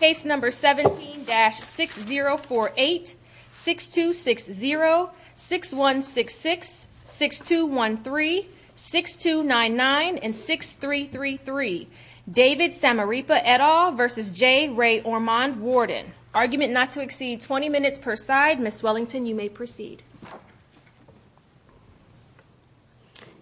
Case number 17-6048 6260 6166 6213 6299 6333 David Samarripa et al. v. J Ray Ormond Warden. Argument not to exceed 20 minutes per side. Ms. Wellington, you may proceed.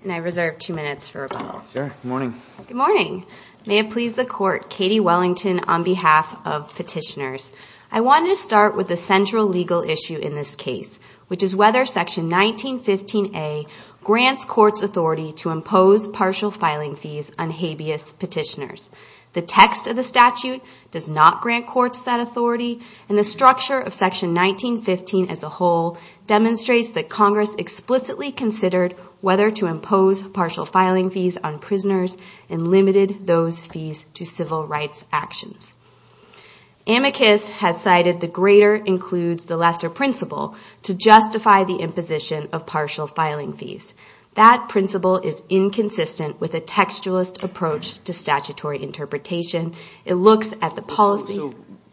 And I reserve two minutes for rebuttal. Sure. Good morning. Good morning. May it please the Court, Katie Wellington on behalf of petitioners. I wanted to start with the central legal issue in this case, which is whether Section 1915A grants courts authority to impose partial filing fees on habeas petitioners. The text of the statute does not grant courts that authority, and the structure of Section 1915 as a whole demonstrates that Congress explicitly considered whether to impose partial filing fees on prisoners and limited those fees to civil rights actions. Amicus has cited the greater includes the lesser principle to justify the imposition of partial filing fees. That principle is inconsistent with a textualist approach to statutory interpretation. It looks at the policy.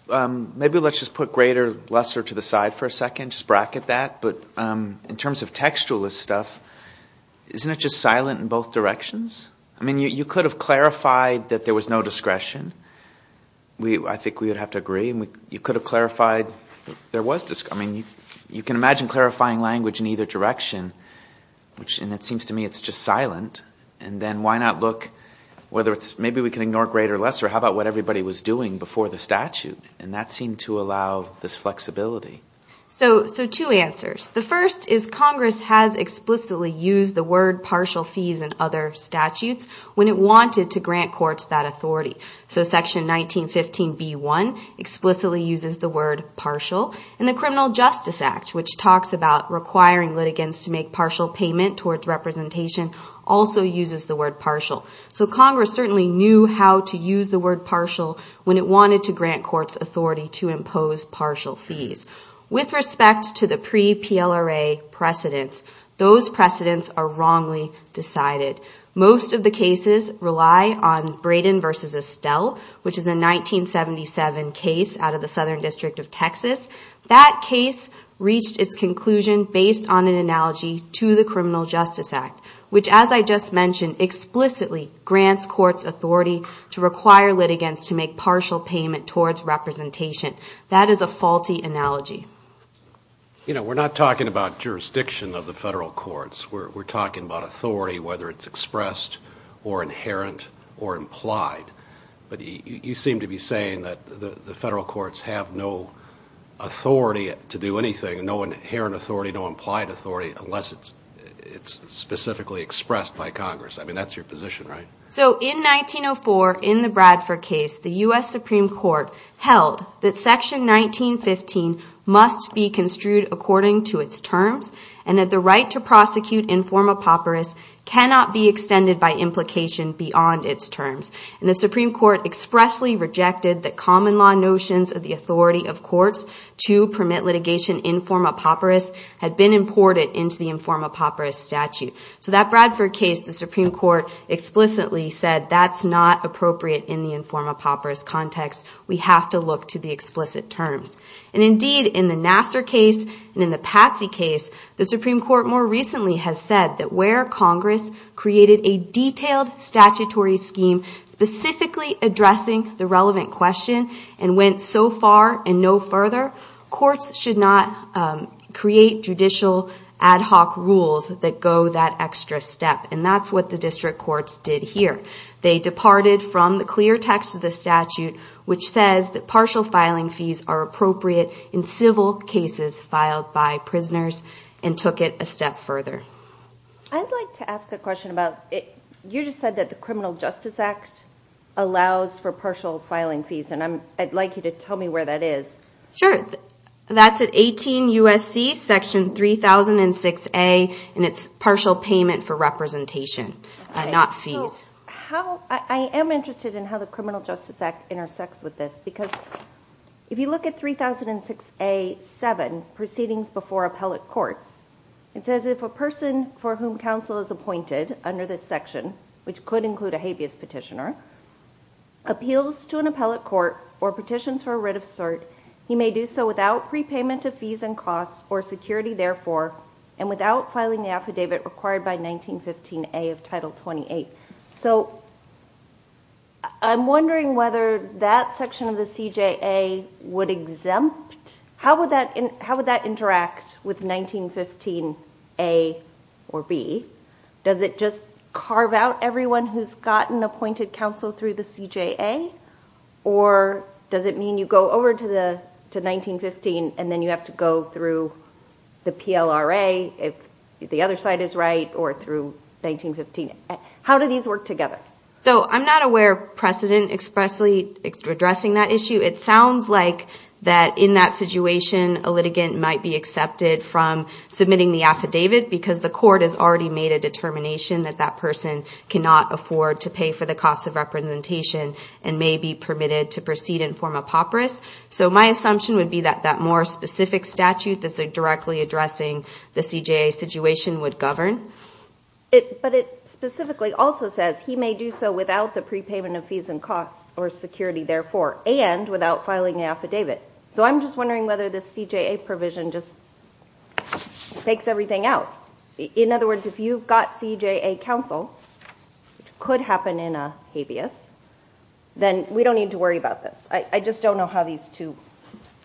So maybe let's just put greater, lesser to the side for a second, just bracket that. But in terms of textualist stuff, isn't it just silent in both directions? I mean, you could have clarified that there was no discretion. I think we would have to agree. You could have clarified there was discretion. I mean, you can imagine clarifying language in either direction, and it seems to me it's just silent. And then why not look whether it's maybe we can ignore greater, lesser. How about what everybody was doing before the statute? And that seemed to allow this flexibility. So two answers. The first is Congress has explicitly used the word partial fees and other statutes when it wanted to grant courts that authority. So Section 1915b1 explicitly uses the word partial, and the Criminal Justice Act, which talks about requiring litigants to make partial payment towards representation, also uses the word partial. So Congress certainly knew how to use the word partial when it wanted to grant courts authority to impose partial fees. With respect to the pre-PLRA precedents, those precedents are wrongly decided. Most of the cases rely on Brayden v. Estelle, which is a 1977 case out of the Southern District of Texas. That case reached its conclusion based on an analogy to the Criminal Justice Act, which, as I just mentioned, explicitly grants courts authority to require litigants to make partial payment towards representation. That is a faulty analogy. You know, we're not talking about jurisdiction of the federal courts. We're talking about authority, whether it's expressed or inherent or implied. But you seem to be saying that the federal courts have no authority to do anything, no inherent authority, no implied authority, unless it's specifically expressed by Congress. I mean, that's your position, right? So in 1904, in the Bradford case, the U.S. Supreme Court held that Section 1915 must be construed according to its terms and that the right to prosecute informa pauperis cannot be extended by implication beyond its terms. And the Supreme Court expressly rejected that common law notions of the authority of courts to permit litigation informa pauperis had been imported into the informa pauperis statute. So that Bradford case, the Supreme Court explicitly said that's not appropriate in the informa pauperis context. We have to look to the explicit terms. And indeed, in the Nassar case and in the Patsy case, the Supreme Court more recently has said that where Congress created a detailed statutory scheme specifically addressing the relevant question and went so far and no further, courts should not create judicial ad hoc rules that go that extra step. And that's what the district courts did here. They departed from the clear text of the statute, which says that partial filing fees are appropriate in civil cases filed by prisoners and took it a step further. I'd like to ask a question about, you just said that the Criminal Justice Act allows for partial filing fees, and I'd like you to tell me where that is. Sure. That's at 18 U.S.C., Section 3006A, and it's partial payment for representation, not fees. I am interested in how the Criminal Justice Act intersects with this, because if you look at 3006A.7, Proceedings Before Appellate Courts, it says if a person for whom counsel is appointed under this section, which could include a habeas petitioner, appeals to an appellate court or petitions for a writ of cert, he may do so without prepayment of fees and costs or security, therefore, and without filing the affidavit required by 1915A of Title 28. So I'm wondering whether that section of the CJA would exempt, how would that interact with 1915A or B? Does it just carve out everyone who's gotten appointed counsel through the CJA, or does it mean you go over to 1915 and then you have to go through the PLRA if the other side is right, or through 1915? How do these work together? So I'm not aware of precedent expressly addressing that issue. It sounds like that in that situation, a litigant might be accepted from submitting the affidavit because the court has already made a determination that that person cannot afford to pay for the cost of representation and may be permitted to proceed and form a papyrus. So my assumption would be that that more specific statute that's directly addressing the CJA situation would govern. But it specifically also says he may do so without the prepayment of fees and costs or security, therefore, and without filing an affidavit. So I'm just wondering whether this CJA provision just takes everything out. In other words, if you've got CJA counsel, which could happen in a habeas, then we don't need to worry about this. I just don't know how these two...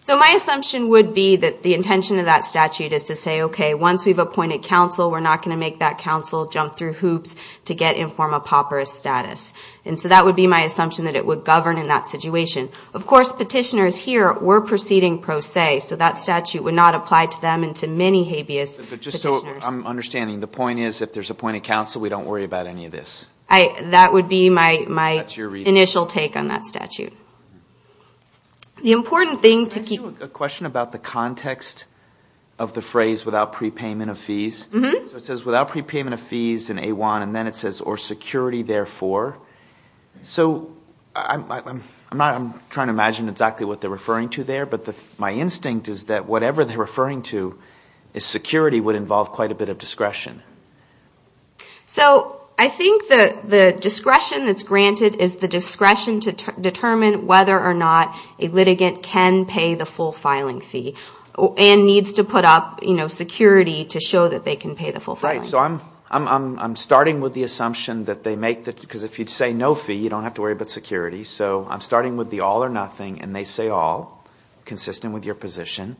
So my assumption would be that the intention of that statute is to say, okay, once we've appointed counsel, we're not going to make that counsel jump through hoops to get and form a papyrus status. And so that would be my assumption that it would govern in that situation. Of course, petitioners here were proceeding pro se, so that statute would not apply to them and to many habeas petitioners. But just so I'm understanding, the point is if there's appointed counsel, we don't worry about any of this? That would be my initial take on that statute. The important thing to keep... I have a question about the context of the phrase without prepayment of fees. So it says without prepayment of fees in A1, and then it says or security, therefore. So I'm trying to imagine exactly what they're referring to there, but my instinct is that whatever they're referring to as security would involve quite a bit of discretion. So I think the discretion that's granted is the discretion to determine whether or not a litigant can pay the full filing fee, and needs to put up security to show that they can pay the full filing fee. Right. So I'm starting with the assumption that they make, because if you say no fee, you don't have to worry about security. So I'm starting with the all or nothing, and they say all, consistent with your position.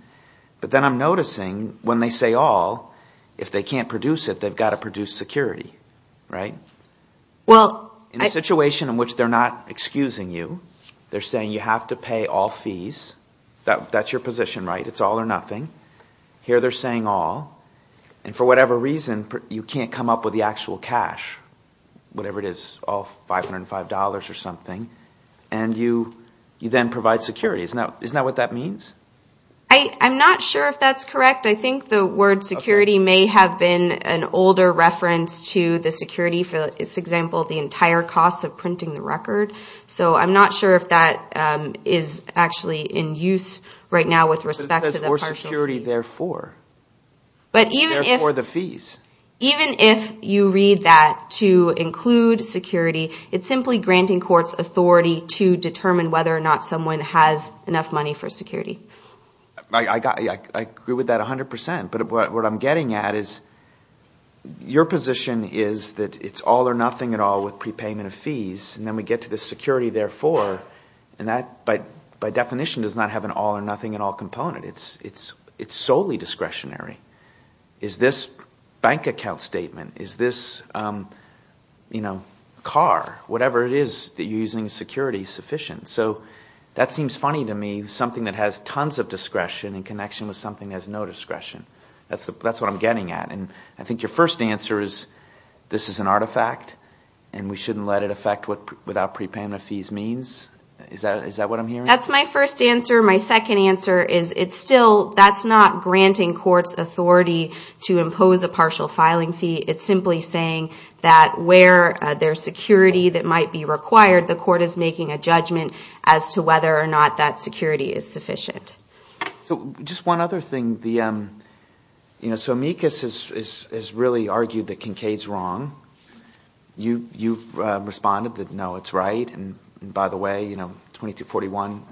If they're going to produce it, they've got to produce security, right? In a situation in which they're not excusing you, they're saying you have to pay all fees. That's your position, right? It's all or nothing. Here they're saying all. And for whatever reason, you can't come up with the actual cash, whatever it is, all $505 or something, and you then provide security. Isn't that what that means? I'm not sure if that's correct. I think the word security may have been an older reference to the security, for example, the entire cost of printing the record. So I'm not sure if that is actually in use right now with respect to the partial fees. But it says more security therefore. Therefore the fees. Even if you read that to include security, it's simply granting courts authority to determine whether or not someone has enough money for security. I agree with that 100 percent. But what I'm getting at is your position is that it's all or nothing at all with prepayment of fees. And then we get to the security therefore, and that by definition does not have an all or nothing at all component. It's solely discretionary. Is this bank account statement, is this car, whatever it is that you're using security sufficient? So that seems funny to me, something that has tons of discretion in connection with something that has no discretion. That's what I'm getting at. And I think your first answer is this is an artifact, and we shouldn't let it affect what without prepayment of fees means? Is that what I'm hearing? That's my first answer. My second answer is it's still, that's not granting courts authority to impose a partial filing fee. It's simply saying that where there's security that might be required, the court is making a judgment as to whether or not that security is sufficient. So just one other thing. So amicus has really argued that Kincaid's wrong. You've responded that no, it's right. And by the way, 2241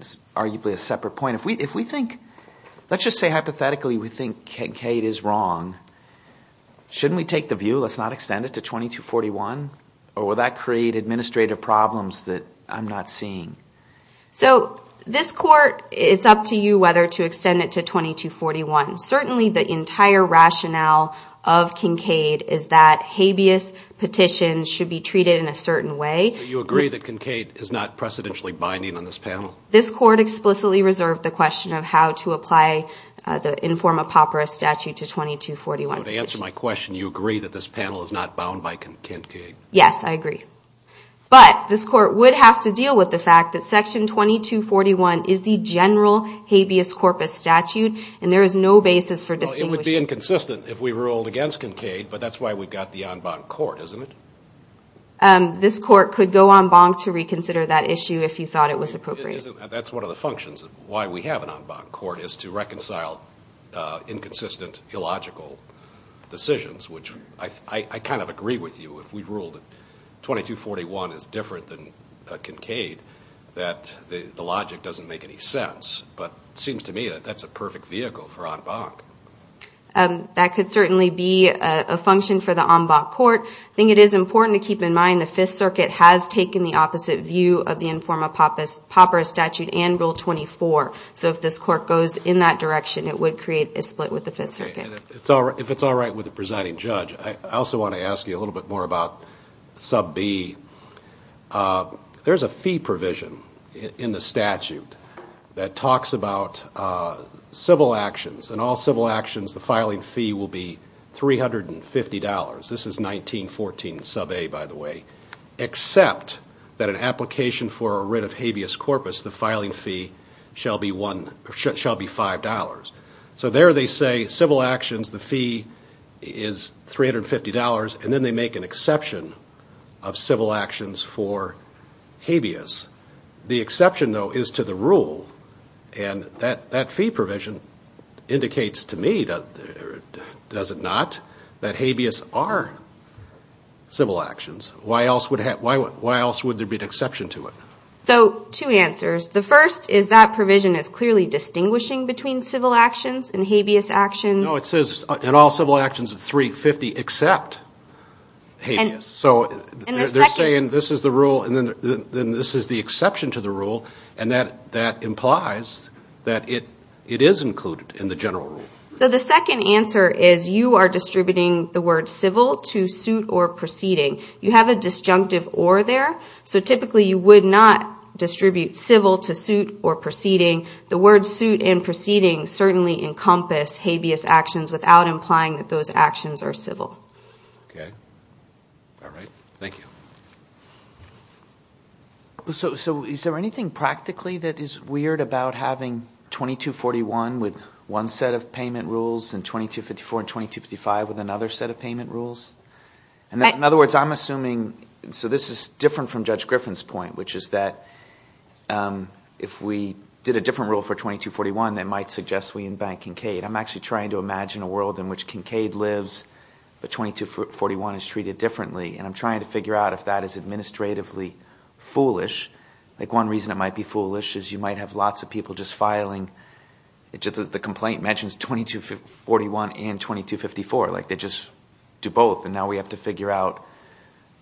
is arguably a separate point. If we think, let's just say hypothetically we think Kincaid is wrong. Shouldn't we take the view, let's not extend it to 2241? Or will that create administrative problems that I'm not seeing? So this court, it's up to you whether to extend it to 2241. Certainly the entire rationale of Kincaid is that habeas petitions should be treated in a certain way. Do you agree that Kincaid is not precedentially binding on this panel? This court explicitly reserved the question of how to apply the inform a papyrus statute to 2241. So to answer my question, you agree that this panel is not bound by Kincaid? Yes, I agree. But this court would have to deal with the fact that section 2241 is the general habeas corpus statute, and there is no basis for distinguishing. It would be inconsistent if we ruled against Kincaid, but that's why we've got the en banc court, isn't it? This court could go en banc to reconsider that issue if you thought it was appropriate. That's one of the functions of why we have an en banc court, is to reconcile inconsistent, illogical decisions, which I kind of agree with you. If we ruled 2241 is different than Kincaid, that the logic doesn't make any sense. But it seems to me that that's a perfect vehicle for en banc. That could certainly be a function for the en banc court. I think it is important to keep in mind the Fifth Circuit has taken the opposite view of the inform a papyrus statute and Rule 24. So if this court goes in that direction, it would create a split with the Fifth Circuit. If it's all right with the presiding judge, I also want to ask you a little bit more about sub B. There's a fee provision in the statute that talks about civil actions. In all civil actions, the filing fee will be $350. This is 1914 sub A, by the way, except that an application for a writ of habeas corpus, the filing fee shall be $5. So there they say civil actions, the fee is $350. And then they make an exception of civil actions for habeas. The exception, though, is to the rule. And that fee provision indicates to me, does it not, that habeas are civil actions. Why else would there be an exception to it? So two answers. The first is that provision is clearly distinguishing between civil actions and habeas actions. No, it says in all civil actions it's $350 except habeas. So they're saying this is the rule, and then this is the exception to the rule, and that implies that it is included in the general rule. So the second answer is you are distributing the word civil to suit or proceeding. You have a disjunctive or there, so typically you would not distribute civil to suit or proceeding. The word suit and proceeding certainly encompass habeas actions without implying that those actions are civil. Okay. All right. Thank you. So is there anything practically that is weird about having 2241 with one set of payment rules and 2254 and 2255 with another set of payment rules? In other words, I'm assuming, so this is different from Judge Griffin's point, which is that if we did a different rule for 2241, that might suggest we embank Kincaid. I'm actually trying to imagine a world in which Kincaid lives, but 2241 is treated differently. And I'm trying to figure out if that is administratively foolish. Like one reason it might be foolish is you might have lots of people just filing, the complaint mentions 2241 and 2254. Like they just do both, and now we have to figure out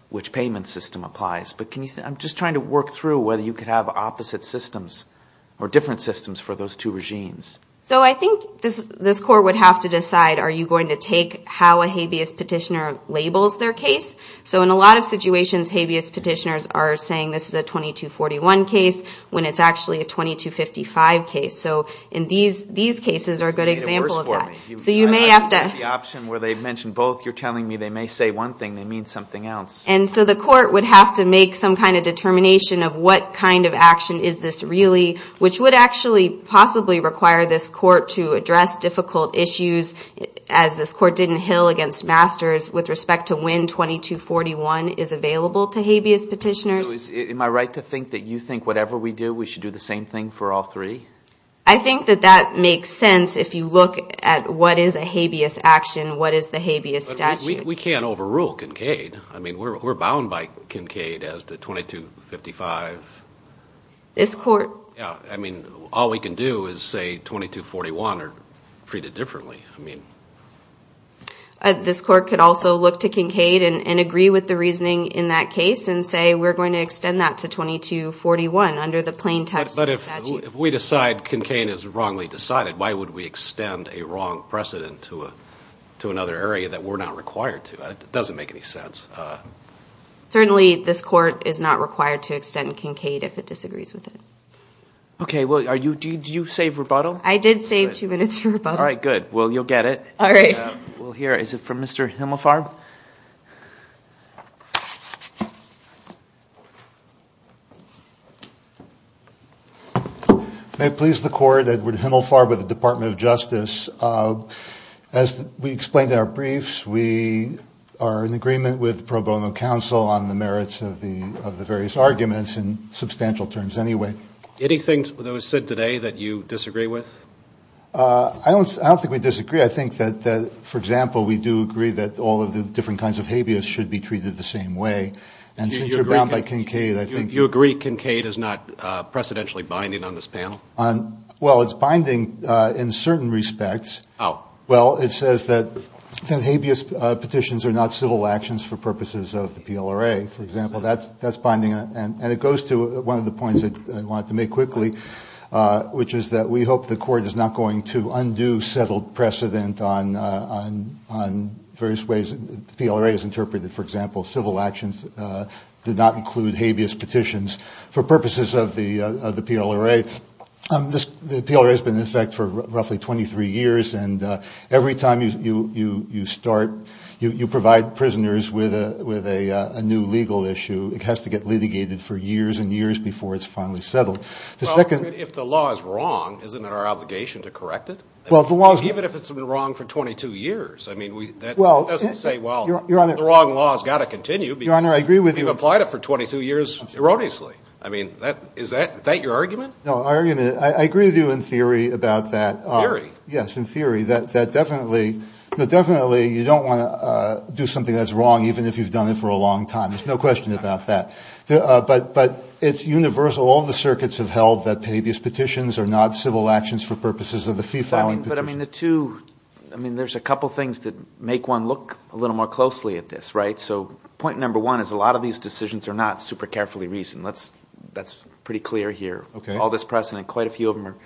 which payment system applies. But I'm just trying to work through whether you could have opposite systems or different systems for those two regimes. So I think this court would have to decide, are you going to take how a habeas petitioner labels their case? So in a lot of situations, habeas petitioners are saying this is a 2241 case when it's actually a 2255 case. So these cases are a good example of that. And so the court would have to make some kind of determination of what kind of action is this really, which would actually possibly require this court to address difficult issues, as this court did in Hill against Masters, with respect to when 2241 is available to habeas petitioners. So am I right to think that you think whatever we do, we should do the same thing for all three? I think that that makes sense if you look at what is a habeas action, what is the habeas statute. We can't overrule Kincaid. I mean, we're bound by Kincaid as to 2255. This court... Yeah, I mean, all we can do is say 2241 or treat it differently. This court could also look to Kincaid and agree with the reasoning in that case and say we're going to extend that to 2241 under the plain text of the statute. But if we decide Kincaid is wrongly decided, why would we extend a wrong precedent to another area that we're not required to extend? It doesn't make any sense. Certainly, this court is not required to extend Kincaid if it disagrees with it. Okay, well, did you save rebuttal? I did save two minutes for rebuttal. All right, good. Well, you'll get it. All right. Is it from Mr. Himelfarb? May it please the court, Edward Himelfarb with the Department of Justice. As we explained in our briefs, we are in agreement with pro bono counsel on the merits of the various arguments in substantial terms anyway. Anything that was said today that you disagree with? I don't think we disagree. I think that, for example, we do agree that all of the different kinds of habeas should be treated the same way. And since you're bound by Kincaid, I think you agree Kincaid is not precedentially binding on this panel? Well, it's binding in certain respects. Well, it says that habeas petitions are not civil actions for purposes of the PLRA, for example. That's binding, and it goes to one of the points I wanted to make quickly, which is that we hope the court is not going to undo settled precedent on various ways the PLRA is interpreted. For example, civil actions did not include habeas petitions for purposes of the PLRA. The PLRA has been in effect for roughly 23 years, and every time you start, you provide prisoners with a new legal issue. It has to get litigated for years and years before it's finally settled. Well, if the law is wrong, isn't it our obligation to correct it, even if it's been wrong for 22 years? I mean, that doesn't say, well, the wrong law has got to continue because we've applied it for 22 years erroneously. I mean, is that your argument? No, I agree with you in theory about that. Theory? But it's universal. All the circuits have held that habeas petitions are not civil actions for purposes of the fee-filing petition. I mean, there's a couple things that make one look a little more closely at this, right? So point number one is a lot of these decisions are not super carefully reasoned. That's pretty clear here. All this precedent, quite a few of them are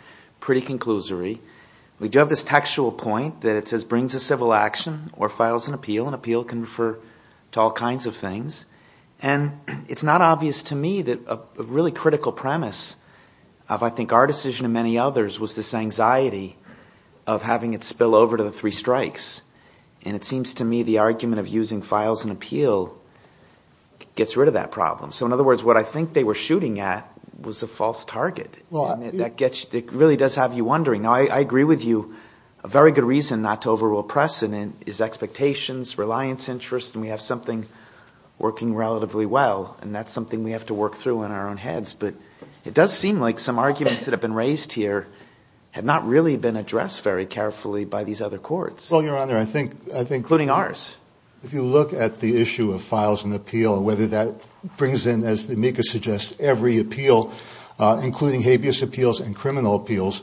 pretty conclusory. We do have this textual point that it says brings a civil action or files an appeal, and appeal can refer to all kinds of things. And it's not obvious to me that a really critical premise of, I think, our decision and many others was this anxiety of having it spill over to the three strikes. And it seems to me the argument of using files and appeal gets rid of that problem. So in other words, what I think they were shooting at was a false target. It really does have you wondering. Now, I agree with you, a very good reason not to overrule precedent is expectations, reliance, interest, and we have something we're going to do with it. It's working relatively well, and that's something we have to work through in our own heads. But it does seem like some arguments that have been raised here have not really been addressed very carefully by these other courts. Well, Your Honor, I think... Including ours. If you look at the issue of files and appeal, whether that brings in, as the amicus suggests, every appeal, including habeas appeals and criminal appeals,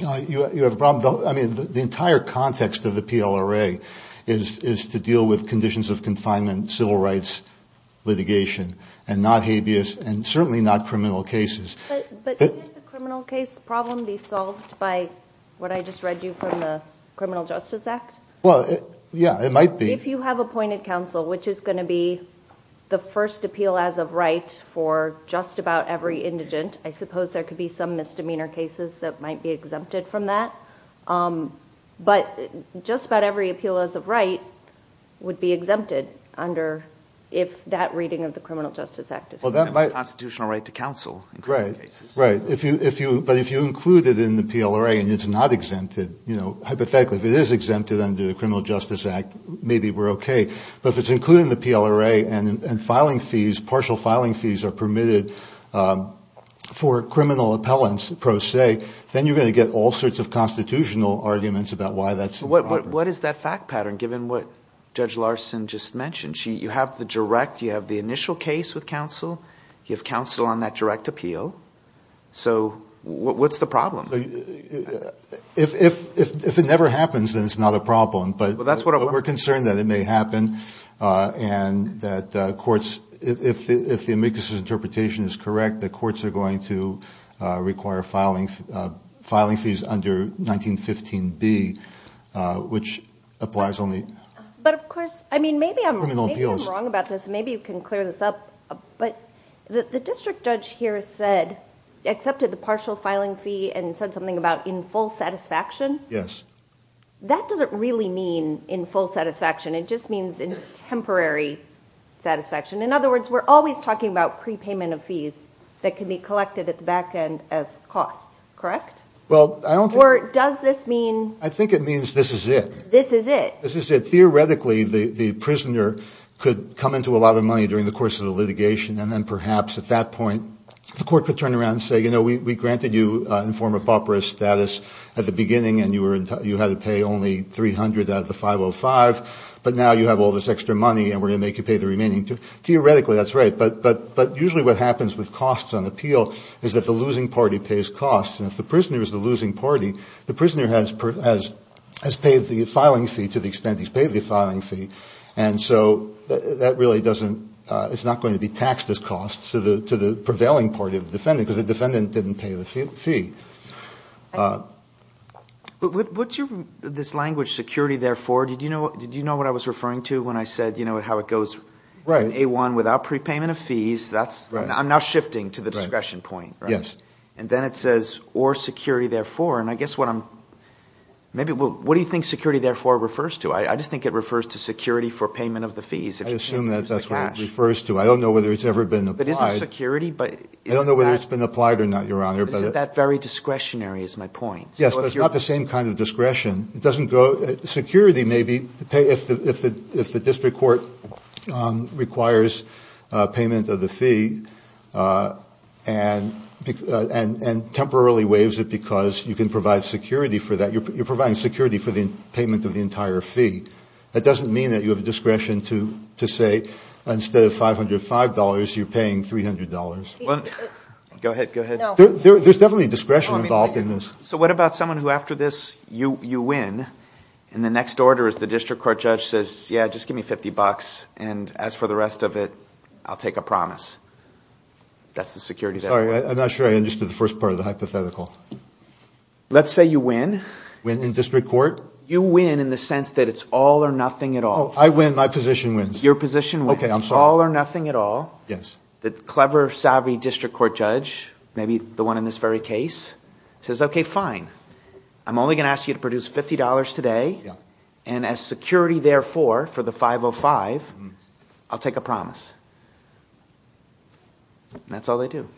you have a problem. I mean, the entire context of the PLRA is to deal with conditions of confinement, civil rights, and the like. And that's what we're trying to do. We're trying to deal with cases that are not habeas litigation and not habeas and certainly not criminal cases. But can the criminal case problem be solved by what I just read you from the Criminal Justice Act? Well, yeah, it might be. If you have appointed counsel, which is going to be the first appeal as of right for just about every indigent, I suppose there could be some misdemeanor cases that might be exempted from that. But just about every appeal as of right would be exempted under if that reading of the Criminal Justice Act is... Constitutional right to counsel in criminal cases. Right. But if you include it in the PLRA and it's not exempted, hypothetically, if it is exempted under the Criminal Justice Act, maybe we're okay. But if it's included in the PLRA and partial filing fees are permitted for criminal appellants, per se, then you're going to get all sorts of constitutional issues. But what is that fact pattern, given what Judge Larson just mentioned? You have the direct, you have the initial case with counsel. You have counsel on that direct appeal. So what's the problem? If it never happens, then it's not a problem. But we're concerned that it may happen and that courts, if the amicus's interpretation is correct, that courts are going to require filing fees under 1915. Which applies only to criminal appeals. But of course, maybe I'm wrong about this. Maybe you can clear this up. But the district judge here said, accepted the partial filing fee and said something about in full satisfaction. Yes. That doesn't really mean in full satisfaction. It just means in temporary satisfaction. In other words, we're always talking about prepayment of fees that can be collected at the back end as costs. Correct? Or does this mean... I think it means this is it. This is it. This is it. Theoretically, the prisoner could come into a lot of money during the course of the litigation. And then perhaps at that point, the court could turn around and say, you know, we granted you informal papyrus status at the beginning. And you had to pay only 300 out of the 505. But now you have all this extra money and we're going to make you pay the remaining. Theoretically, that's right. But usually what happens with costs on appeal is that the losing party pays costs. And if the prisoner is the losing party, the prisoner has paid the filing fee to the extent he's paid the filing fee. And so that really doesn't... It's not going to be taxed as costs to the prevailing party of the defendant because the defendant didn't pay the fee. What's this language security there for? Did you know what I was referring to when I said how it goes in A1 without prepayment of fees? I'm now shifting to the discretion point. And then it says or security therefore. And I guess what I'm... What do you think security therefore refers to? I just think it refers to security for payment of the fees. I assume that's what it refers to. I don't know whether it's ever been applied. It isn't security. I don't know whether it's been applied or not, Your Honor. It's that very discretionary is my point. Yes, but it's not the same kind of discretion. Security may be if the district court requires payment of the fee and temporarily waives it because you can provide security for that. You're providing security for the payment of the entire fee. That doesn't mean that you have discretion to say instead of $505, you're paying $300. Go ahead. There's definitely discretion involved in this. So what about someone who after this, you win. And the next order is the district court judge says, yeah, just give me $50. And as for the rest of it, I'll take a promise. That's the security there. I'm not sure I understood the first part of the hypothetical. Let's say you win. You win in the sense that it's all or nothing at all. The clever, savvy district court judge, maybe the one in this very case, says, okay, fine. I'm only going to ask you to produce $50 today. And as security therefore for the 505, I'll take a promise. That's all they do.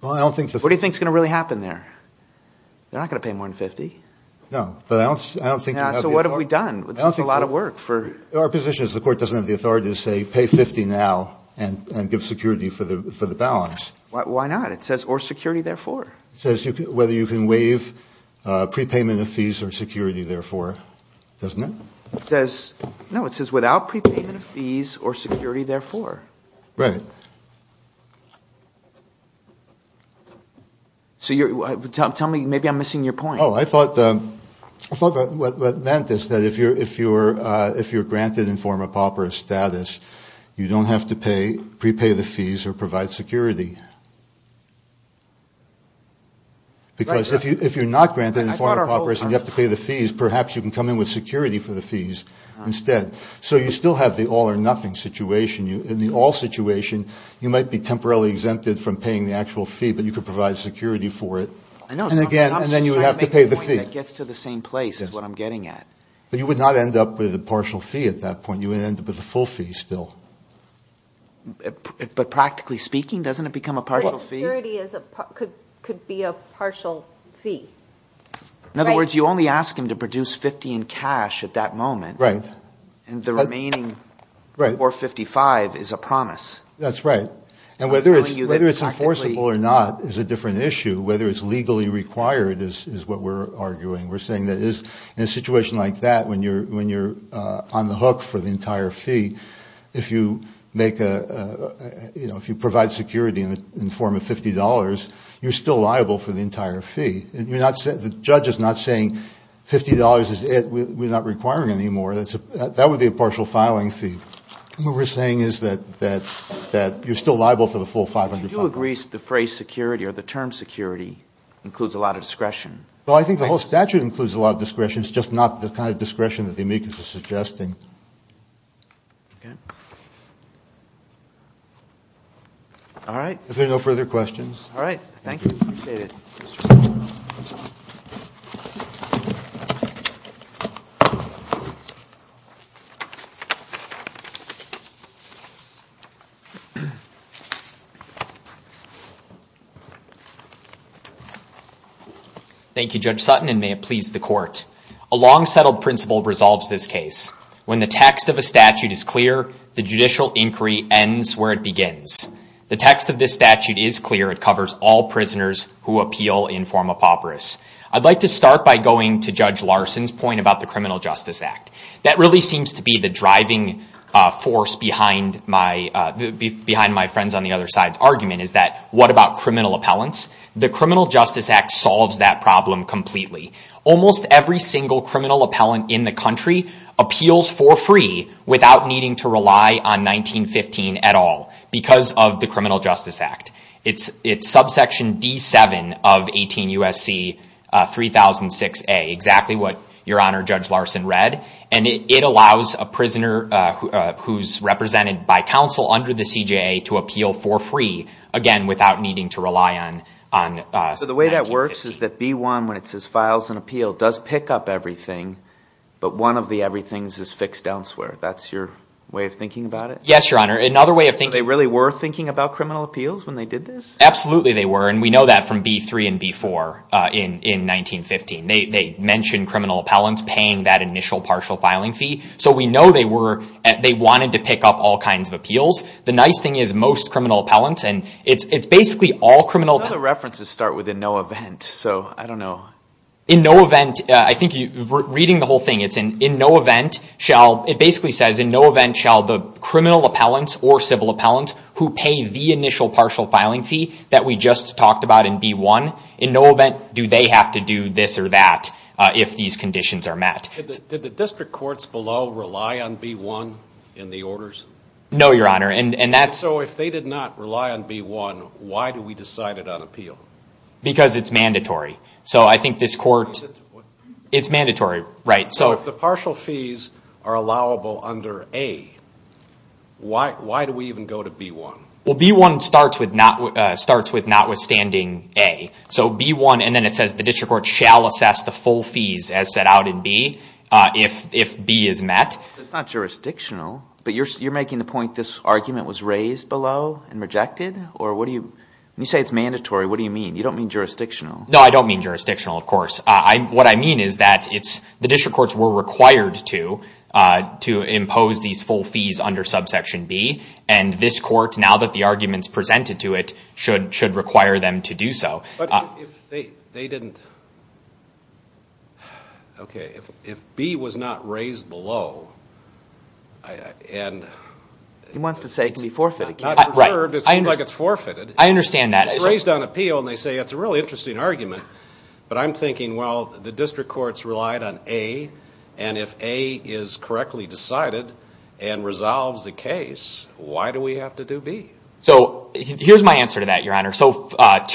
What do you think is going to really happen there? They're not going to pay more than $50. So what have we done? Our position is the court doesn't have the authority to say pay $50 now and give security for the balance. Why not? It says or security therefore. It says whether you can waive prepayment of fees or security therefore. Doesn't it? No, it says without prepayment of fees or security therefore. Right. Tell me, maybe I'm missing your point. I thought what it meant is that if you're granted informer pauper status, you don't have to prepay the fees or provide security. Because if you're not granted informer paupers and you have to pay the fees, perhaps you can come in with security for the fees instead. So you still have the all or nothing situation. In the all situation, you might be temporarily exempted from paying the actual fee, but you can provide security for it. But you would not end up with a partial fee at that point. You would end up with a full fee still. But practically speaking, doesn't it become a partial fee? Security could be a partial fee. In other words, you only ask him to produce 50 in cash at that moment. And the remaining 455 is a promise. That's right. And whether it's enforceable or not is a different issue. Whether it's legally required is what we're arguing. In a situation like that, when you're on the hook for the entire fee, if you provide security in the form of $50, you're still liable for the entire fee. The judge is not saying $50 is it, we're not requiring any more. That would be a partial filing fee. What we're saying is that you're still liable for the full 500. Do you agree the phrase security or the term security includes a lot of discretion? Well, I think the whole statute includes a lot of discretion. It's just not the kind of discretion that the amicus is suggesting. Okay. All right. If there are no further questions. All right. Thank you. Appreciate it. Thank you. Thank you, Judge Sutton, and may it please the court. A long-settled principle resolves this case. When the text of a statute is clear, the judicial inquiry ends where it begins. The text of this statute is clear. It covers all prisoners who appeal in form of papyrus. I'd like to start by going to Judge Larson's point about the Criminal Justice Act. That really seems to be the driving force behind my friends on the other side's argument is that what about criminal appellants? The Criminal Justice Act solves that problem completely. Almost every single criminal appellant in the country appeals for free without needing to rely on 1915 at all because of the Criminal Justice Act. It's subsection D7 of 18 U.S.C. 3006A, exactly what Your Honor, Judge Larson read, and it allows a prisoner who's represented by counsel under the CJA to appeal for free, again, without needing to rely on 1950. So the way that works is that B1, when it says files and appeal, does pick up everything, but one of the everythings is fixed elsewhere. That's your way of thinking about it? Yes, Your Honor. So they really were thinking about criminal appeals when they did this? Absolutely they were, and we know that from B3 and B4 in 1915. They mentioned criminal appellants paying that initial partial filing fee, so we know they wanted to pick up all kinds of appeals. The nice thing is most criminal appellants, and it's basically all criminal— Some of the references start with in no event, so I don't know. In no event, I think reading the whole thing, it basically says in no event shall the criminal appellants or civil appellants who pay the initial partial filing fee that we just talked about in B1, in no event do they have to do this or that if these conditions are met. Did the district courts below rely on B1 in the orders? No, Your Honor, and that's— So if they did not rely on B1, why do we decide it on appeal? Because it's mandatory, so I think this court— It's mandatory, right? So if the partial fees are allowable under A, why do we even go to B1? Well, B1 starts with notwithstanding A. So B1, and then it says the district court shall assess the full fees as set out in B if B is met. It's not jurisdictional, but you're making the point this argument was raised below and rejected? Or what do you—when you say it's mandatory, what do you mean? You don't mean jurisdictional. No, I don't mean jurisdictional, of course. What I mean is that the district courts were required to impose these full fees under Subsection B, and this court, now that the argument's presented to it, should require them to do so. But if they didn't—okay, if B was not raised below and— He wants to say it can be forfeited. Not reserved. It seems like it's forfeited. I understand that. It's raised on appeal, and they say it's a really interesting argument. But I'm thinking, well, the district courts relied on A, and if A is correctly decided and resolves the case, why do we have to do B? So here's my answer to that, Your Honor. So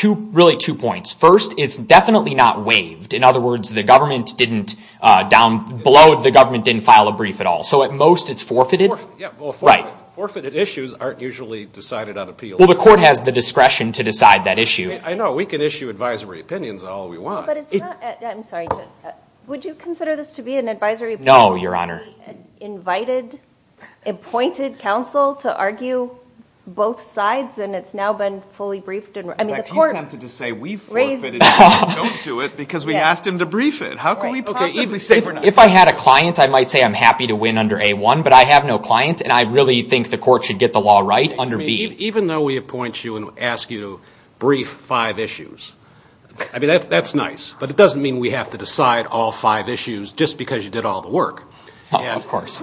really two points. First, it's definitely not waived. In other words, the government didn't—down below, the government didn't file a brief at all. So at most, it's forfeited. Yeah, well, forfeited issues aren't usually decided on appeal. Well, the court has the discretion to decide that issue. I know. We can issue advisory opinions all we want. But it's not—I'm sorry. Would you consider this to be an advisory opinion? No, Your Honor. We invited, appointed counsel to argue both sides, and it's now been fully briefed. In fact, he's tempted to say we forfeited it and don't do it because we asked him to brief it. How can we possibly— And I really think the court should get the law right under B. Even though we appoint you and ask you to brief five issues, I mean, that's nice, but it doesn't mean we have to decide all five issues just because you did all the work. Of course.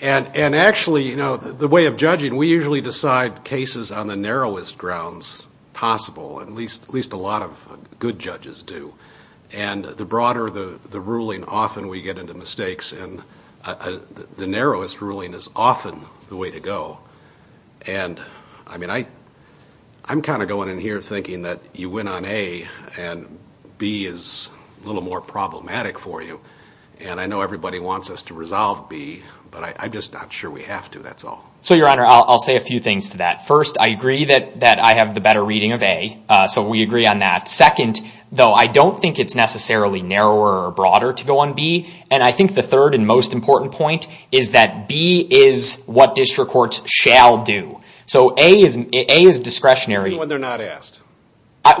And actually, you know, the way of judging, we usually decide cases on the narrowest grounds possible, at least a lot of good judges do. And the broader the ruling, often we get into mistakes, and the narrowest ruling is often the way to go. And, I mean, I'm kind of going in here thinking that you went on A, and B is a little more problematic for you. And I know everybody wants us to resolve B, but I'm just not sure we have to, that's all. So, Your Honor, I'll say a few things to that. First, I agree that I have the better reading of A, so we agree on that. Second, though, I don't think it's necessarily narrower or broader to go on B. And I think the third and most important point is that B is what district courts shall do. So A is discretionary. Even when they're not asked.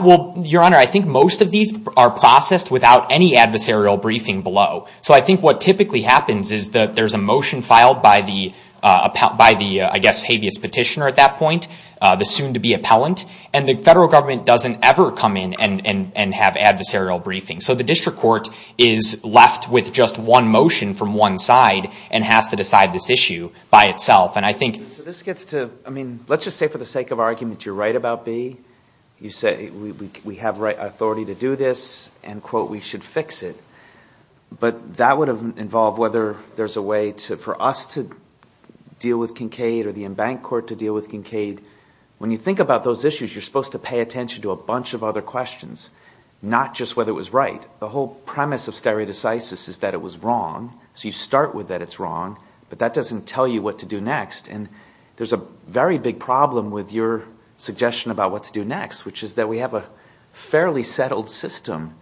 Well, Your Honor, I think most of these are processed without any adversarial briefing below. So I think what typically happens is that there's a motion filed by the, I guess, habeas petitioner at that point, the soon-to-be appellant, and the federal government doesn't ever come in and have adversarial briefing. So the district court is left with just one motion from one side and has to decide this issue by itself. And I think this gets to, I mean, let's just say for the sake of argument you're right about B. You say we have authority to do this and, quote, we should fix it. But that would involve whether there's a way for us to deal with Kincaid or the embanked court to deal with Kincaid. When you think about those issues, you're supposed to pay attention to a bunch of other questions, not just whether it was right. The whole premise of stereodicysis is that it was wrong. So you start with that it's wrong, but that doesn't tell you what to do next. And there's a very big problem with your suggestion about what to do next, which is that we have a fairly settled system.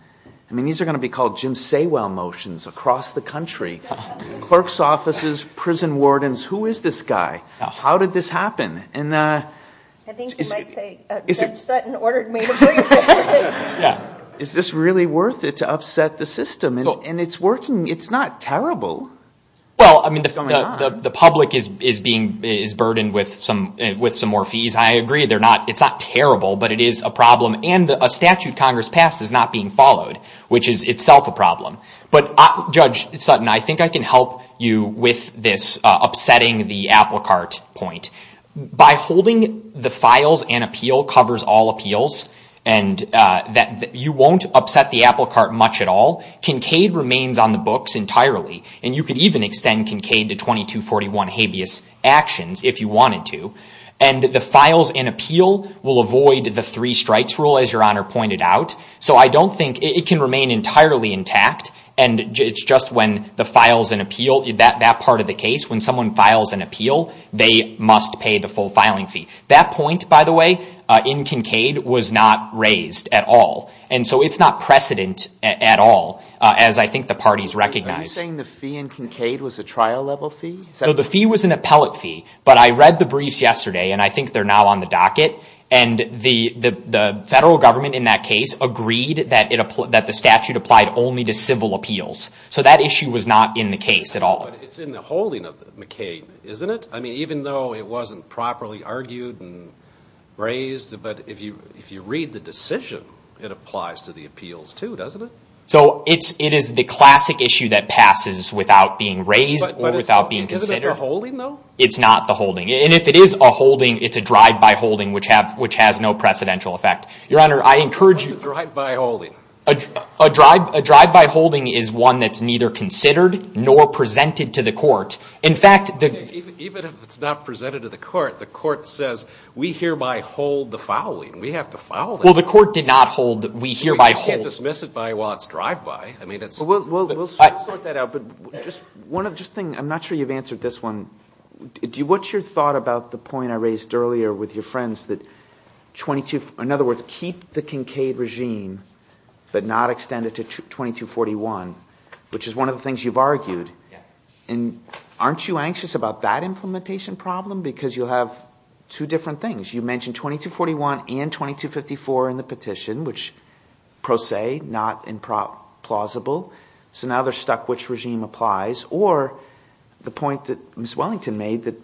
I mean, these are going to be called Jim Saywell motions across the country. Clerk's offices, prison wardens, who is this guy? How did this happen? I think you might say Judge Sutton ordered me to bring this. Is this really worth it to upset the system? And it's working. It's not terrible. Well, I mean, the public is burdened with some more fees. I agree. It's not terrible, but it is a problem. But, Judge Sutton, I think I can help you with this upsetting the apple cart point. By holding the files and appeal covers all appeals, and you won't upset the apple cart much at all. Kincaid remains on the books entirely, and you could even extend Kincaid to 2241 habeas actions if you wanted to. And the files and appeal will avoid the three strikes rule, as Your Honor pointed out. So I don't think it can remain entirely intact. And it's just when the files and appeal, that part of the case, when someone files an appeal, they must pay the full filing fee. That point, by the way, in Kincaid was not raised at all. And so it's not precedent at all, as I think the parties recognize. Are you saying the fee in Kincaid was a trial level fee? No, the fee was an appellate fee. But I read the briefs yesterday, and I think they're now on the docket. And the federal government in that case agreed that the statute applied only to civil appeals. So that issue was not in the case at all. But it's in the holding of Kincaid, isn't it? I mean, even though it wasn't properly argued and raised, but if you read the decision, it applies to the appeals too, doesn't it? So it is the classic issue that passes without being raised or without being considered. But is it in the holding, though? It's not the holding. And if it is a holding, it's a drive-by holding, which has no precedential effect. Your Honor, I encourage you. What's a drive-by holding? A drive-by holding is one that's neither considered nor presented to the court. In fact, the— Even if it's not presented to the court, the court says, we hereby hold the fouling. We have to foul it. Well, the court did not hold the we hereby hold— You can't dismiss it by, well, it's drive-by. I mean, it's— Well, we'll sort that out. But just one other thing. I'm not sure you've answered this one. What's your thought about the point I raised earlier with your friends that 22— In other words, keep the Kincaid regime but not extend it to 2241, which is one of the things you've argued. Yeah. And aren't you anxious about that implementation problem? Because you'll have two different things. You mentioned 2241 and 2254 in the petition, which pro se, not implausible. So now they're stuck which regime applies. Or the point that Ms. Wellington made that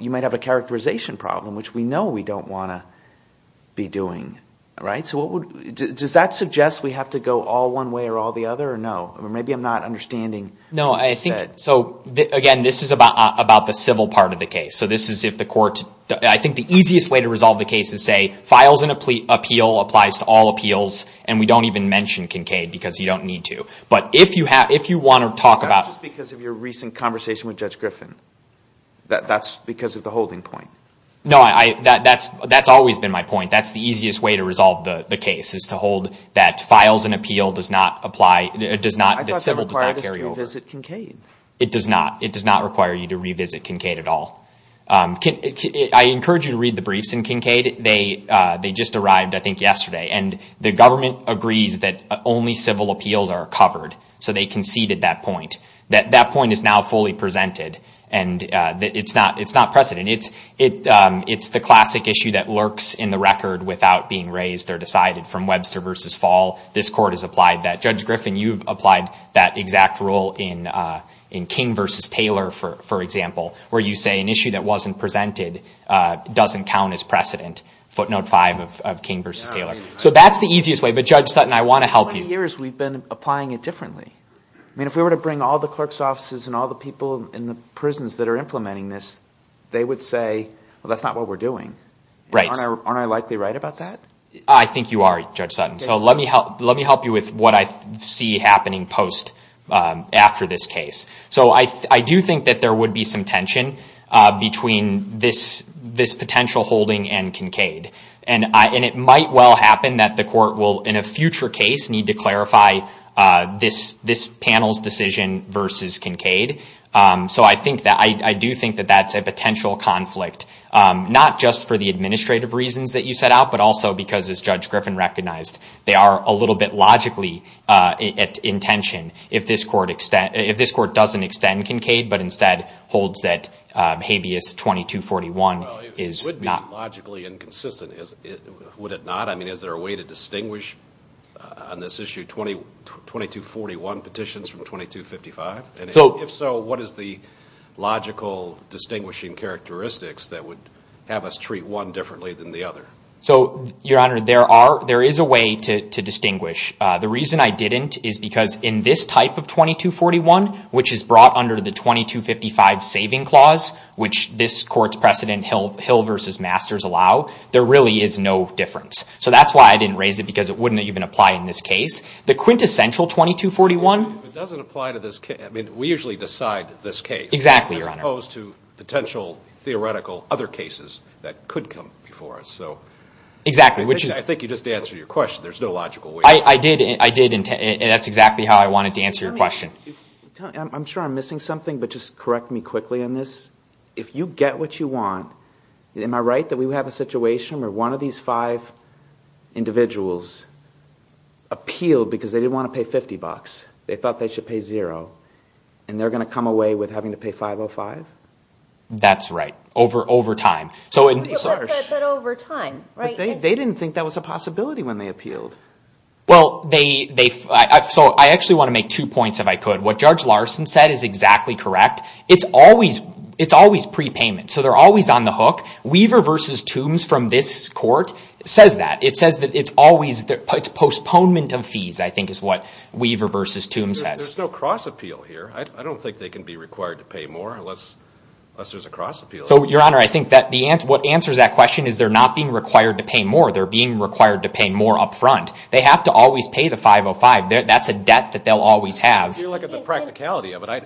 you might have a characterization problem, which we know we don't want to be doing, right? So what would— Does that suggest we have to go all one way or all the other or no? Maybe I'm not understanding what you said. No, I think— So, again, this is about the civil part of the case. So this is if the court— I think the easiest way to resolve the case is, say, files an appeal, applies to all appeals, and we don't even mention Kincaid because you don't need to. But if you want to talk about— That's just because of your recent conversation with Judge Griffin. That's because of the holding point. No, that's always been my point. That's the easiest way to resolve the case is to hold that files an appeal does not apply—does not— I thought it required us to revisit Kincaid. It does not. It does not require you to revisit Kincaid at all. I encourage you to read the briefs in Kincaid. They just arrived, I think, yesterday. And the government agrees that only civil appeals are covered. So they conceded that point. That point is now fully presented, and it's not precedent. It's the classic issue that lurks in the record without being raised or decided from Webster v. Fall. This court has applied that. Judge Griffin, you've applied that exact rule in King v. Taylor, for example, where you say an issue that wasn't presented doesn't count as precedent. That's like footnote five of King v. Taylor. So that's the easiest way. But, Judge Sutton, I want to help you. For 20 years, we've been applying it differently. I mean, if we were to bring all the clerk's offices and all the people in the prisons that are implementing this, they would say, well, that's not what we're doing. Aren't I likely right about that? I think you are, Judge Sutton. So let me help you with what I see happening post—after this case. So I do think that there would be some tension between this potential holding and Kincaid. And it might well happen that the court will, in a future case, need to clarify this panel's decision versus Kincaid. So I do think that that's a potential conflict, not just for the administrative reasons that you set out, but also because, as Judge Griffin recognized, they are a little bit logically in tension if this court doesn't extend Kincaid, but instead holds that habeas 2241 is not— Well, it would be logically inconsistent, would it not? I mean, is there a way to distinguish on this issue 2241 petitions from 2255? And if so, what is the logical distinguishing characteristics that would have us treat one differently than the other? So, Your Honor, there is a way to distinguish. The reason I didn't is because in this type of 2241, which is brought under the 2255 saving clause, which this court's precedent Hill v. Masters allow, there really is no difference. So that's why I didn't raise it, because it wouldn't even apply in this case. The quintessential 2241— It doesn't apply to this case. Exactly, Your Honor. As opposed to potential theoretical other cases that could come before us. Exactly, which is— I think you just answered your question. There's no logical way. I did, and that's exactly how I wanted to answer your question. I'm sure I'm missing something, but just correct me quickly on this. If you get what you want, am I right that we have a situation where one of these five individuals appealed because they didn't want to pay 50 bucks? They thought they should pay zero, and they're going to come away with having to pay 505? That's right, over time. But over time, right? They didn't think that was a possibility when they appealed. Well, I actually want to make two points, if I could. What Judge Larson said is exactly correct. It's always prepayment, so they're always on the hook. Weaver v. Tombs from this court says that. It says that it's always postponement of fees, I think is what Weaver v. Tombs says. There's no cross-appeal here. I don't think they can be required to pay more unless there's a cross-appeal. So, Your Honor, I think what answers that question is they're not being required to pay more. They're being required to pay more up front. They have to always pay the 505. That's a debt that they'll always have. If you look at the practicality of it,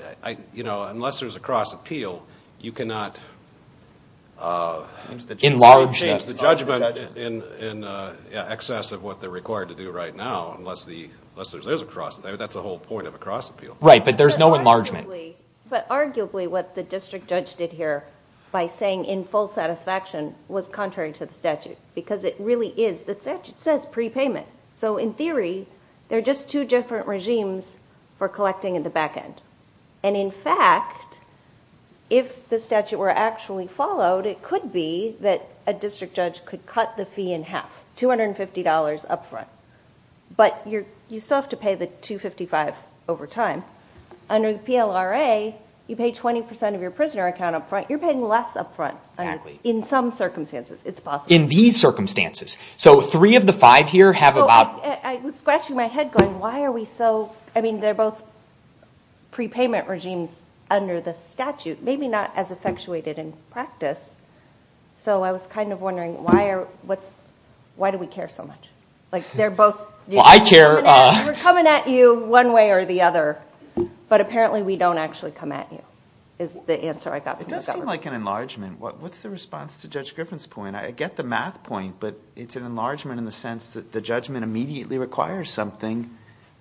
unless there's a cross-appeal, you cannot— excess of what they're required to do right now unless there's a cross— that's the whole point of a cross-appeal. Right, but there's no enlargement. But arguably what the district judge did here by saying in full satisfaction was contrary to the statute because it really is—the statute says prepayment. So in theory, they're just two different regimes for collecting at the back end. And in fact, if the statute were actually followed, it could be that a district judge could cut the fee in half, $250 up front. But you still have to pay the 255 over time. Under the PLRA, you pay 20% of your prisoner account up front. You're paying less up front in some circumstances. It's possible. In these circumstances. So three of the five here have about— I was scratching my head going, why are we so— I mean, they're both prepayment regimes under the statute, maybe not as effectuated in practice. So I was kind of wondering why are—why do we care so much? Like they're both— Well, I care. We're coming at you one way or the other. But apparently we don't actually come at you is the answer I got from the government. It does seem like an enlargement. What's the response to Judge Griffin's point? I get the math point, but it's an enlargement in the sense that the judgment immediately requires something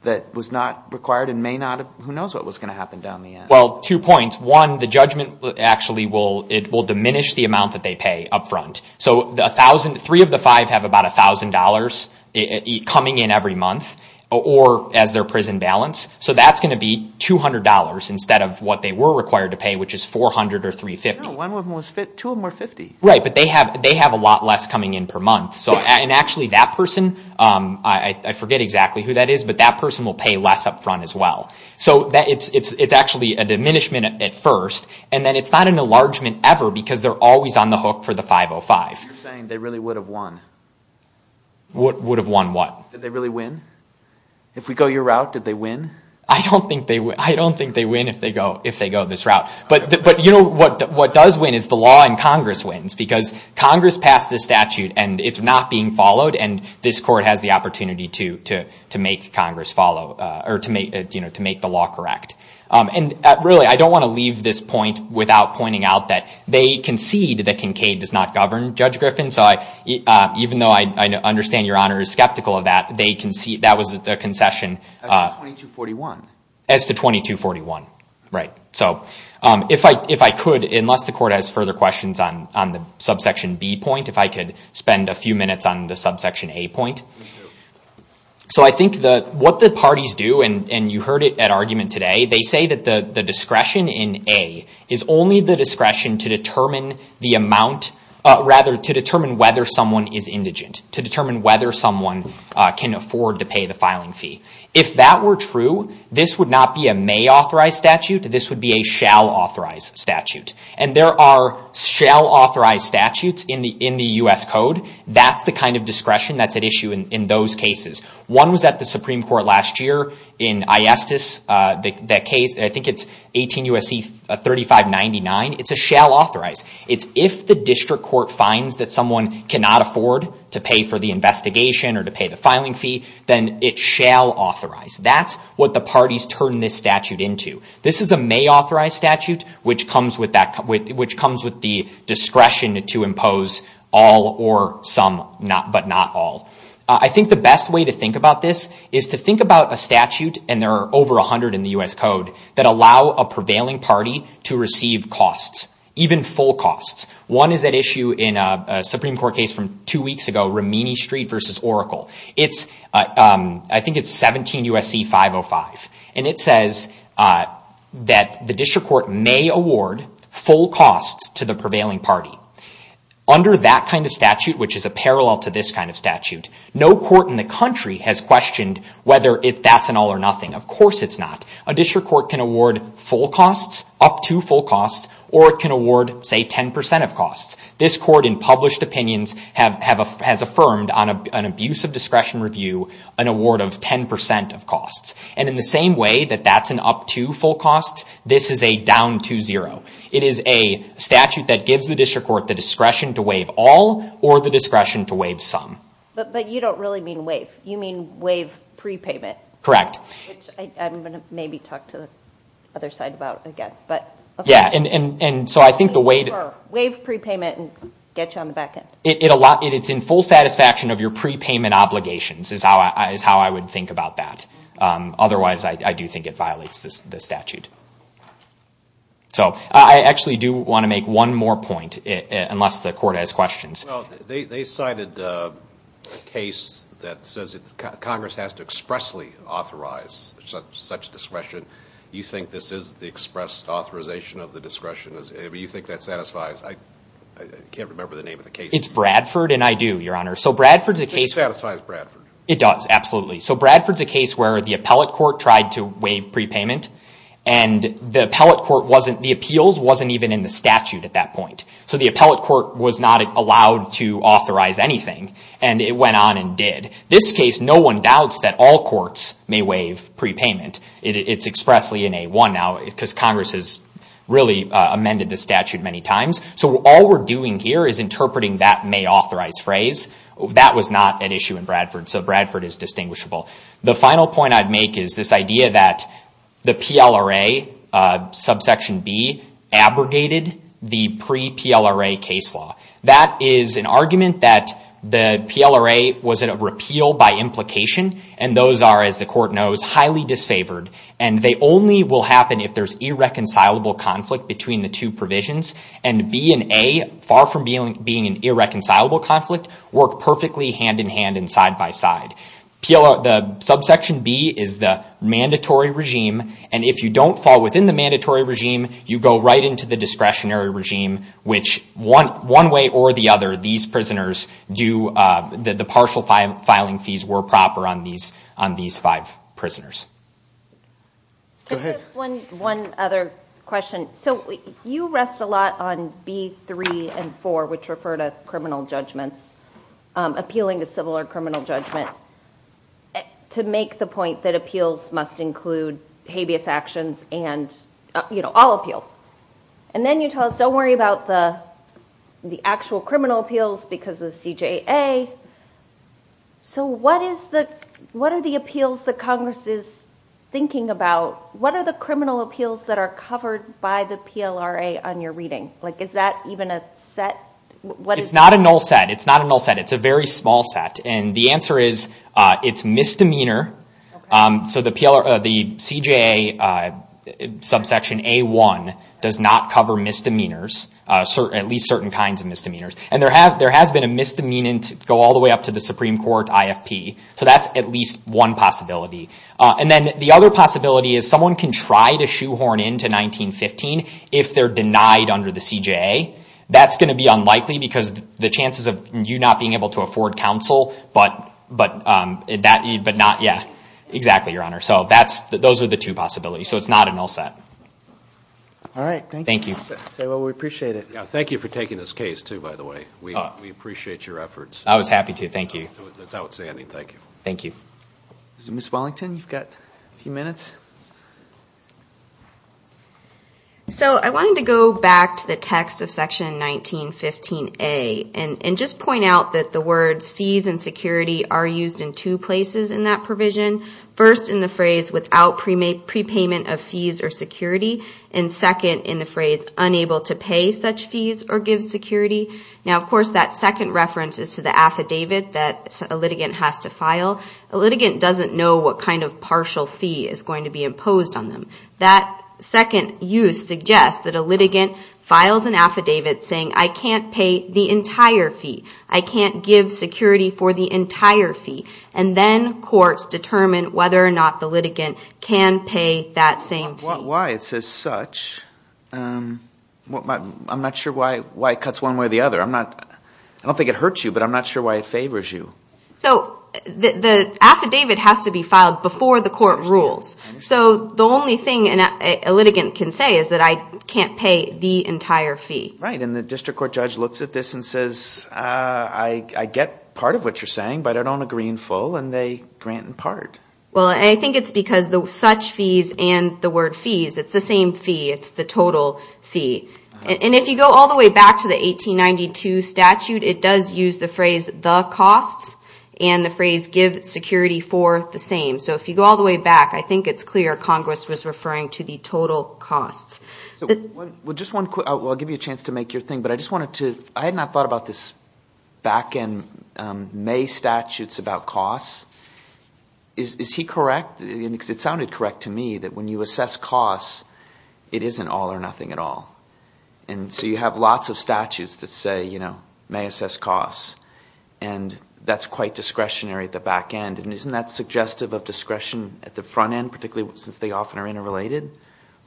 that was not required and may not have—who knows what was going to happen down the end. Well, two points. One, the judgment actually will—it will diminish the amount that they pay up front. So the 1,000—three of the five have about $1,000 coming in every month or as their prison balance. So that's going to be $200 instead of what they were required to pay, which is $400 or $350. No, one of them was $50. Two of them were $50. Right, but they have a lot less coming in per month. And actually that person, I forget exactly who that is, but that person will pay less up front as well. So it's actually a diminishment at first, and then it's not an enlargement ever because they're always on the hook for the 505. So you're saying they really would have won? Would have won what? Did they really win? If we go your route, did they win? I don't think they win if they go this route. But you know what does win is the law in Congress wins because Congress passed this statute and it's not being followed, and this court has the opportunity to make Congress follow or to make the law correct. And really I don't want to leave this point without pointing out that they concede that Kincade does not govern Judge Griffin. So even though I understand Your Honor is skeptical of that, that was a concession. As to 2241. As to 2241, right. So if I could, unless the court has further questions on the subsection B point, if I could spend a few minutes on the subsection A point. So I think what the parties do, and you heard it at argument today, they say that the discretion in A is only the discretion to determine the amount, rather to determine whether someone is indigent, to determine whether someone can afford to pay the filing fee. If that were true, this would not be a may-authorized statute. This would be a shall-authorized statute. And there are shall-authorized statutes in the U.S. Code. That's the kind of discretion that's at issue in those cases. One was at the Supreme Court last year in ISTIS. I think it's 18 U.S.C. 3599. It's a shall-authorized. It's if the district court finds that someone cannot afford to pay for the investigation or to pay the filing fee, then it shall authorize. That's what the parties turn this statute into. This is a may-authorized statute, which comes with the discretion to impose all or some, but not all. I think the best way to think about this is to think about a statute, and there are over 100 in the U.S. Code, that allow a prevailing party to receive costs, even full costs. One is at issue in a Supreme Court case from two weeks ago, Romini Street v. Oracle. I think it's 17 U.S.C. 505. It says that the district court may award full costs to the prevailing party. Under that kind of statute, which is a parallel to this kind of statute, no court in the country has questioned whether that's an all or nothing. Of course it's not. A district court can award full costs, up to full costs, or it can award, say, 10% of costs. This court in published opinions has affirmed on an abuse of discretion review an award of 10% of costs. And in the same way that that's an up to full costs, this is a down to zero. It is a statute that gives the district court the discretion to waive all or the discretion to waive some. But you don't really mean waive. You mean waive prepayment. Correct. Which I'm going to maybe talk to the other side about again. Yeah, and so I think the way to... Waive prepayment and get you on the back end. It's in full satisfaction of your prepayment obligations is how I would think about that. Otherwise, I do think it violates the statute. So I actually do want to make one more point, unless the court has questions. They cited a case that says Congress has to expressly authorize such discretion. Do you think this is the expressed authorization of the discretion? Do you think that satisfies? I can't remember the name of the case. It's Bradford and I do, Your Honor. It satisfies Bradford. It does, absolutely. So Bradford's a case where the appellate court tried to waive prepayment and the appeals wasn't even in the statute at that point. So the appellate court was not allowed to authorize anything and it went on and did. This case, no one doubts that all courts may waive prepayment. It's expressly in A1 now because Congress has really amended the statute many times. So all we're doing here is interpreting that may authorize phrase. That was not an issue in Bradford, so Bradford is distinguishable. The final point I'd make is this idea that the PLRA subsection B abrogated the pre-PLRA case law. That is an argument that the PLRA was in a repeal by implication and those are, as the court knows, highly disfavored. They only will happen if there's irreconcilable conflict between the two provisions. And B and A, far from being an irreconcilable conflict, work perfectly hand-in-hand and side-by-side. The subsection B is the mandatory regime and if you don't fall within the mandatory regime, you go right into the discretionary regime, which one way or the other, the partial filing fees were proper on these five prisoners. Go ahead. One other question. So you rest a lot on B3 and 4, which refer to criminal judgments, appealing a civil or criminal judgment, to make the point that appeals must include habeas actions and all appeals. And then you tell us don't worry about the actual criminal appeals because of the CJA. So what are the appeals that Congress is thinking about? What are the criminal appeals that are covered by the PLRA on your reading? Is that even a set? It's not a null set. It's not a null set. It's a very small set and the answer is it's misdemeanor. So the CJA subsection A1 does not cover misdemeanors, at least certain kinds of misdemeanors. And there has been a misdemeanant go all the way up to the Supreme Court IFP. So that's at least one possibility. And then the other possibility is someone can try to shoehorn into 1915 if they're denied under the CJA. That's going to be unlikely because the chances of you not being able to afford counsel but not, yeah, exactly, Your Honor. So those are the two possibilities. So it's not a null set. All right. Thank you. Well, we appreciate it. Thank you for taking this case too, by the way. We appreciate your efforts. I was happy to. Thank you. That's outstanding. Thank you. Thank you. Ms. Wellington, you've got a few minutes. So I wanted to go back to the text of Section 1915A and just point out that the words fees and security are used in two places in that provision. First, in the phrase without prepayment of fees or security, and second in the phrase unable to pay such fees or give security. Now, of course, that second reference is to the affidavit that a litigant has to file. A litigant doesn't know what kind of partial fee is going to be imposed on them. That second use suggests that a litigant files an affidavit saying, I can't pay the entire fee. I can't give security for the entire fee. And then courts determine whether or not the litigant can pay that same fee. Why? It says such. I'm not sure why it cuts one way or the other. I don't think it hurts you, but I'm not sure why it favors you. So the affidavit has to be filed before the court rules. So the only thing a litigant can say is that I can't pay the entire fee. Right, and the district court judge looks at this and says, I get part of what you're saying, but I don't agree in full, and they grant in part. Well, I think it's because the such fees and the word fees, it's the same fee. It's the total fee. And if you go all the way back to the 1892 statute, it does use the phrase the costs and the phrase give security for the same. So if you go all the way back, I think it's clear Congress was referring to the total costs. Well, I'll give you a chance to make your thing, I had not thought about this back end May statutes about costs. Is he correct? Because it sounded correct to me that when you assess costs, it isn't all or nothing at all. And so you have lots of statutes that say May assess costs, and that's quite discretionary at the back end. And isn't that suggestive of discretion at the front end, particularly since they often are interrelated?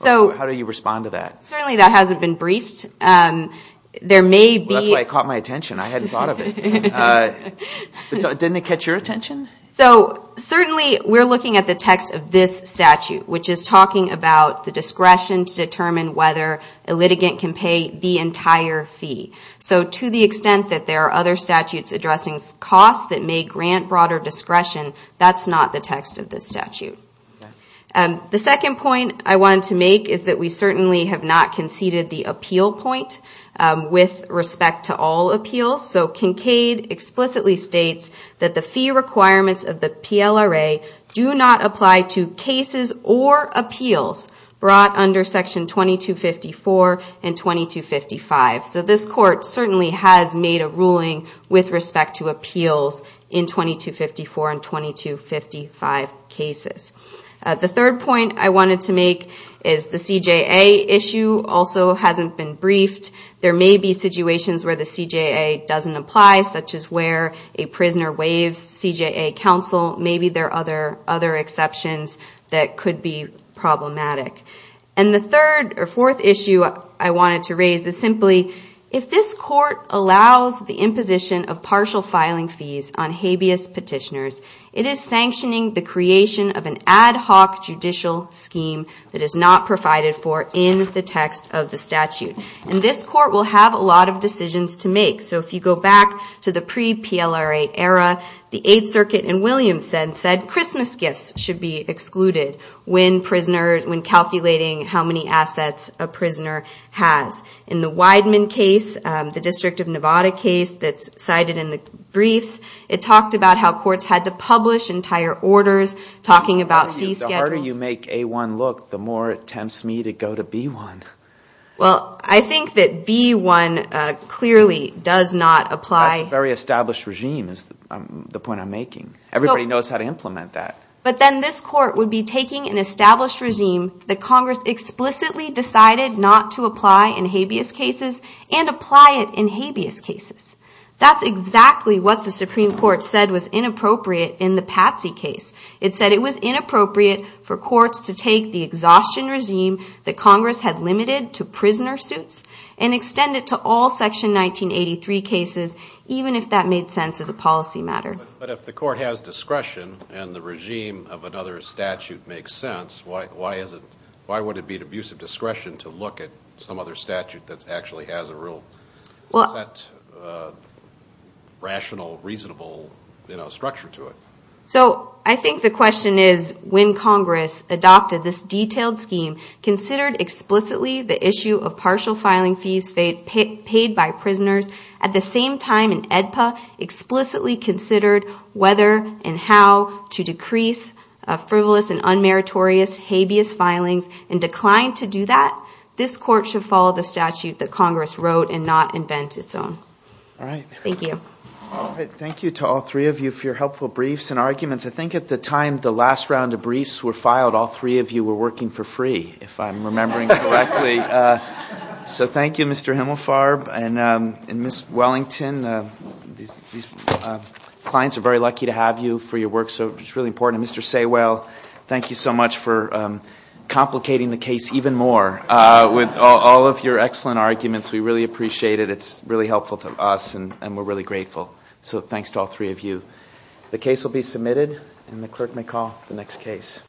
How do you respond to that? Certainly that hasn't been briefed. That's why it caught my attention. I hadn't thought of it. Didn't it catch your attention? So certainly we're looking at the text of this statute, which is talking about the discretion to determine whether a litigant can pay the entire fee. So to the extent that there are other statutes addressing costs that may grant broader discretion, that's not the text of this statute. The second point I wanted to make is that we certainly have not conceded the appeal point with respect to all appeals. So Kincaid explicitly states that the fee requirements of the PLRA do not apply to cases or appeals brought under Section 2254 and 2255. So this Court certainly has made a ruling with respect to appeals in 2254 and 2255 cases. The third point I wanted to make is the CJA issue also hasn't been briefed. There may be situations where the CJA doesn't apply, such as where a prisoner waives CJA counsel. Maybe there are other exceptions that could be problematic. And the fourth issue I wanted to raise is simply, if this Court allows the imposition of partial filing fees on habeas petitioners, it is sanctioning the creation of an ad hoc judicial scheme that is not provided for in the text of the statute. And this Court will have a lot of decisions to make. So if you go back to the pre-PLRA era, the Eighth Circuit in Williamson said Christmas gifts should be excluded when calculating how many assets a prisoner has. In the Wideman case, the District of Nevada case that's cited in the briefs, it talked about how courts had to publish entire orders, talking about fee schedules. The harder you make A-1 look, the more it tempts me to go to B-1. Well, I think that B-1 clearly does not apply. That's a very established regime is the point I'm making. Everybody knows how to implement that. But then this Court would be taking an established regime that Congress explicitly decided not to apply in habeas cases and apply it in habeas cases. That's exactly what the Supreme Court said was inappropriate in the Patsey case. It said it was inappropriate for courts to take the exhaustion regime that Congress had limited to prisoner suits and extend it to all Section 1983 cases even if that made sense as a policy matter. But if the Court has discretion and the regime of another statute makes sense, why would it be an abuse of discretion to look at some other statute that actually has a rule? Is that rational, reasonable structure to it? So I think the question is when Congress adopted this detailed scheme, considered explicitly the issue of partial filing fees paid by prisoners, at the same time in AEDPA explicitly considered whether and how to decrease frivolous and unmeritorious habeas filings and declined to do that, this Court should follow the statute that Congress wrote and not invent its own. All right. Thank you. All right. Thank you to all three of you for your helpful briefs and arguments. I think at the time the last round of briefs were filed, all three of you were working for free, if I'm remembering correctly. So thank you, Mr. Himmelfarb and Ms. Wellington. These clients are very lucky to have you for your work, so it's really important. And Mr. Saywell, thank you so much for complicating the case even more with all of your excellent arguments. We really appreciate it. It's really helpful to us, and we're really grateful. So thanks to all three of you. The case will be submitted, and the clerk may call the next case.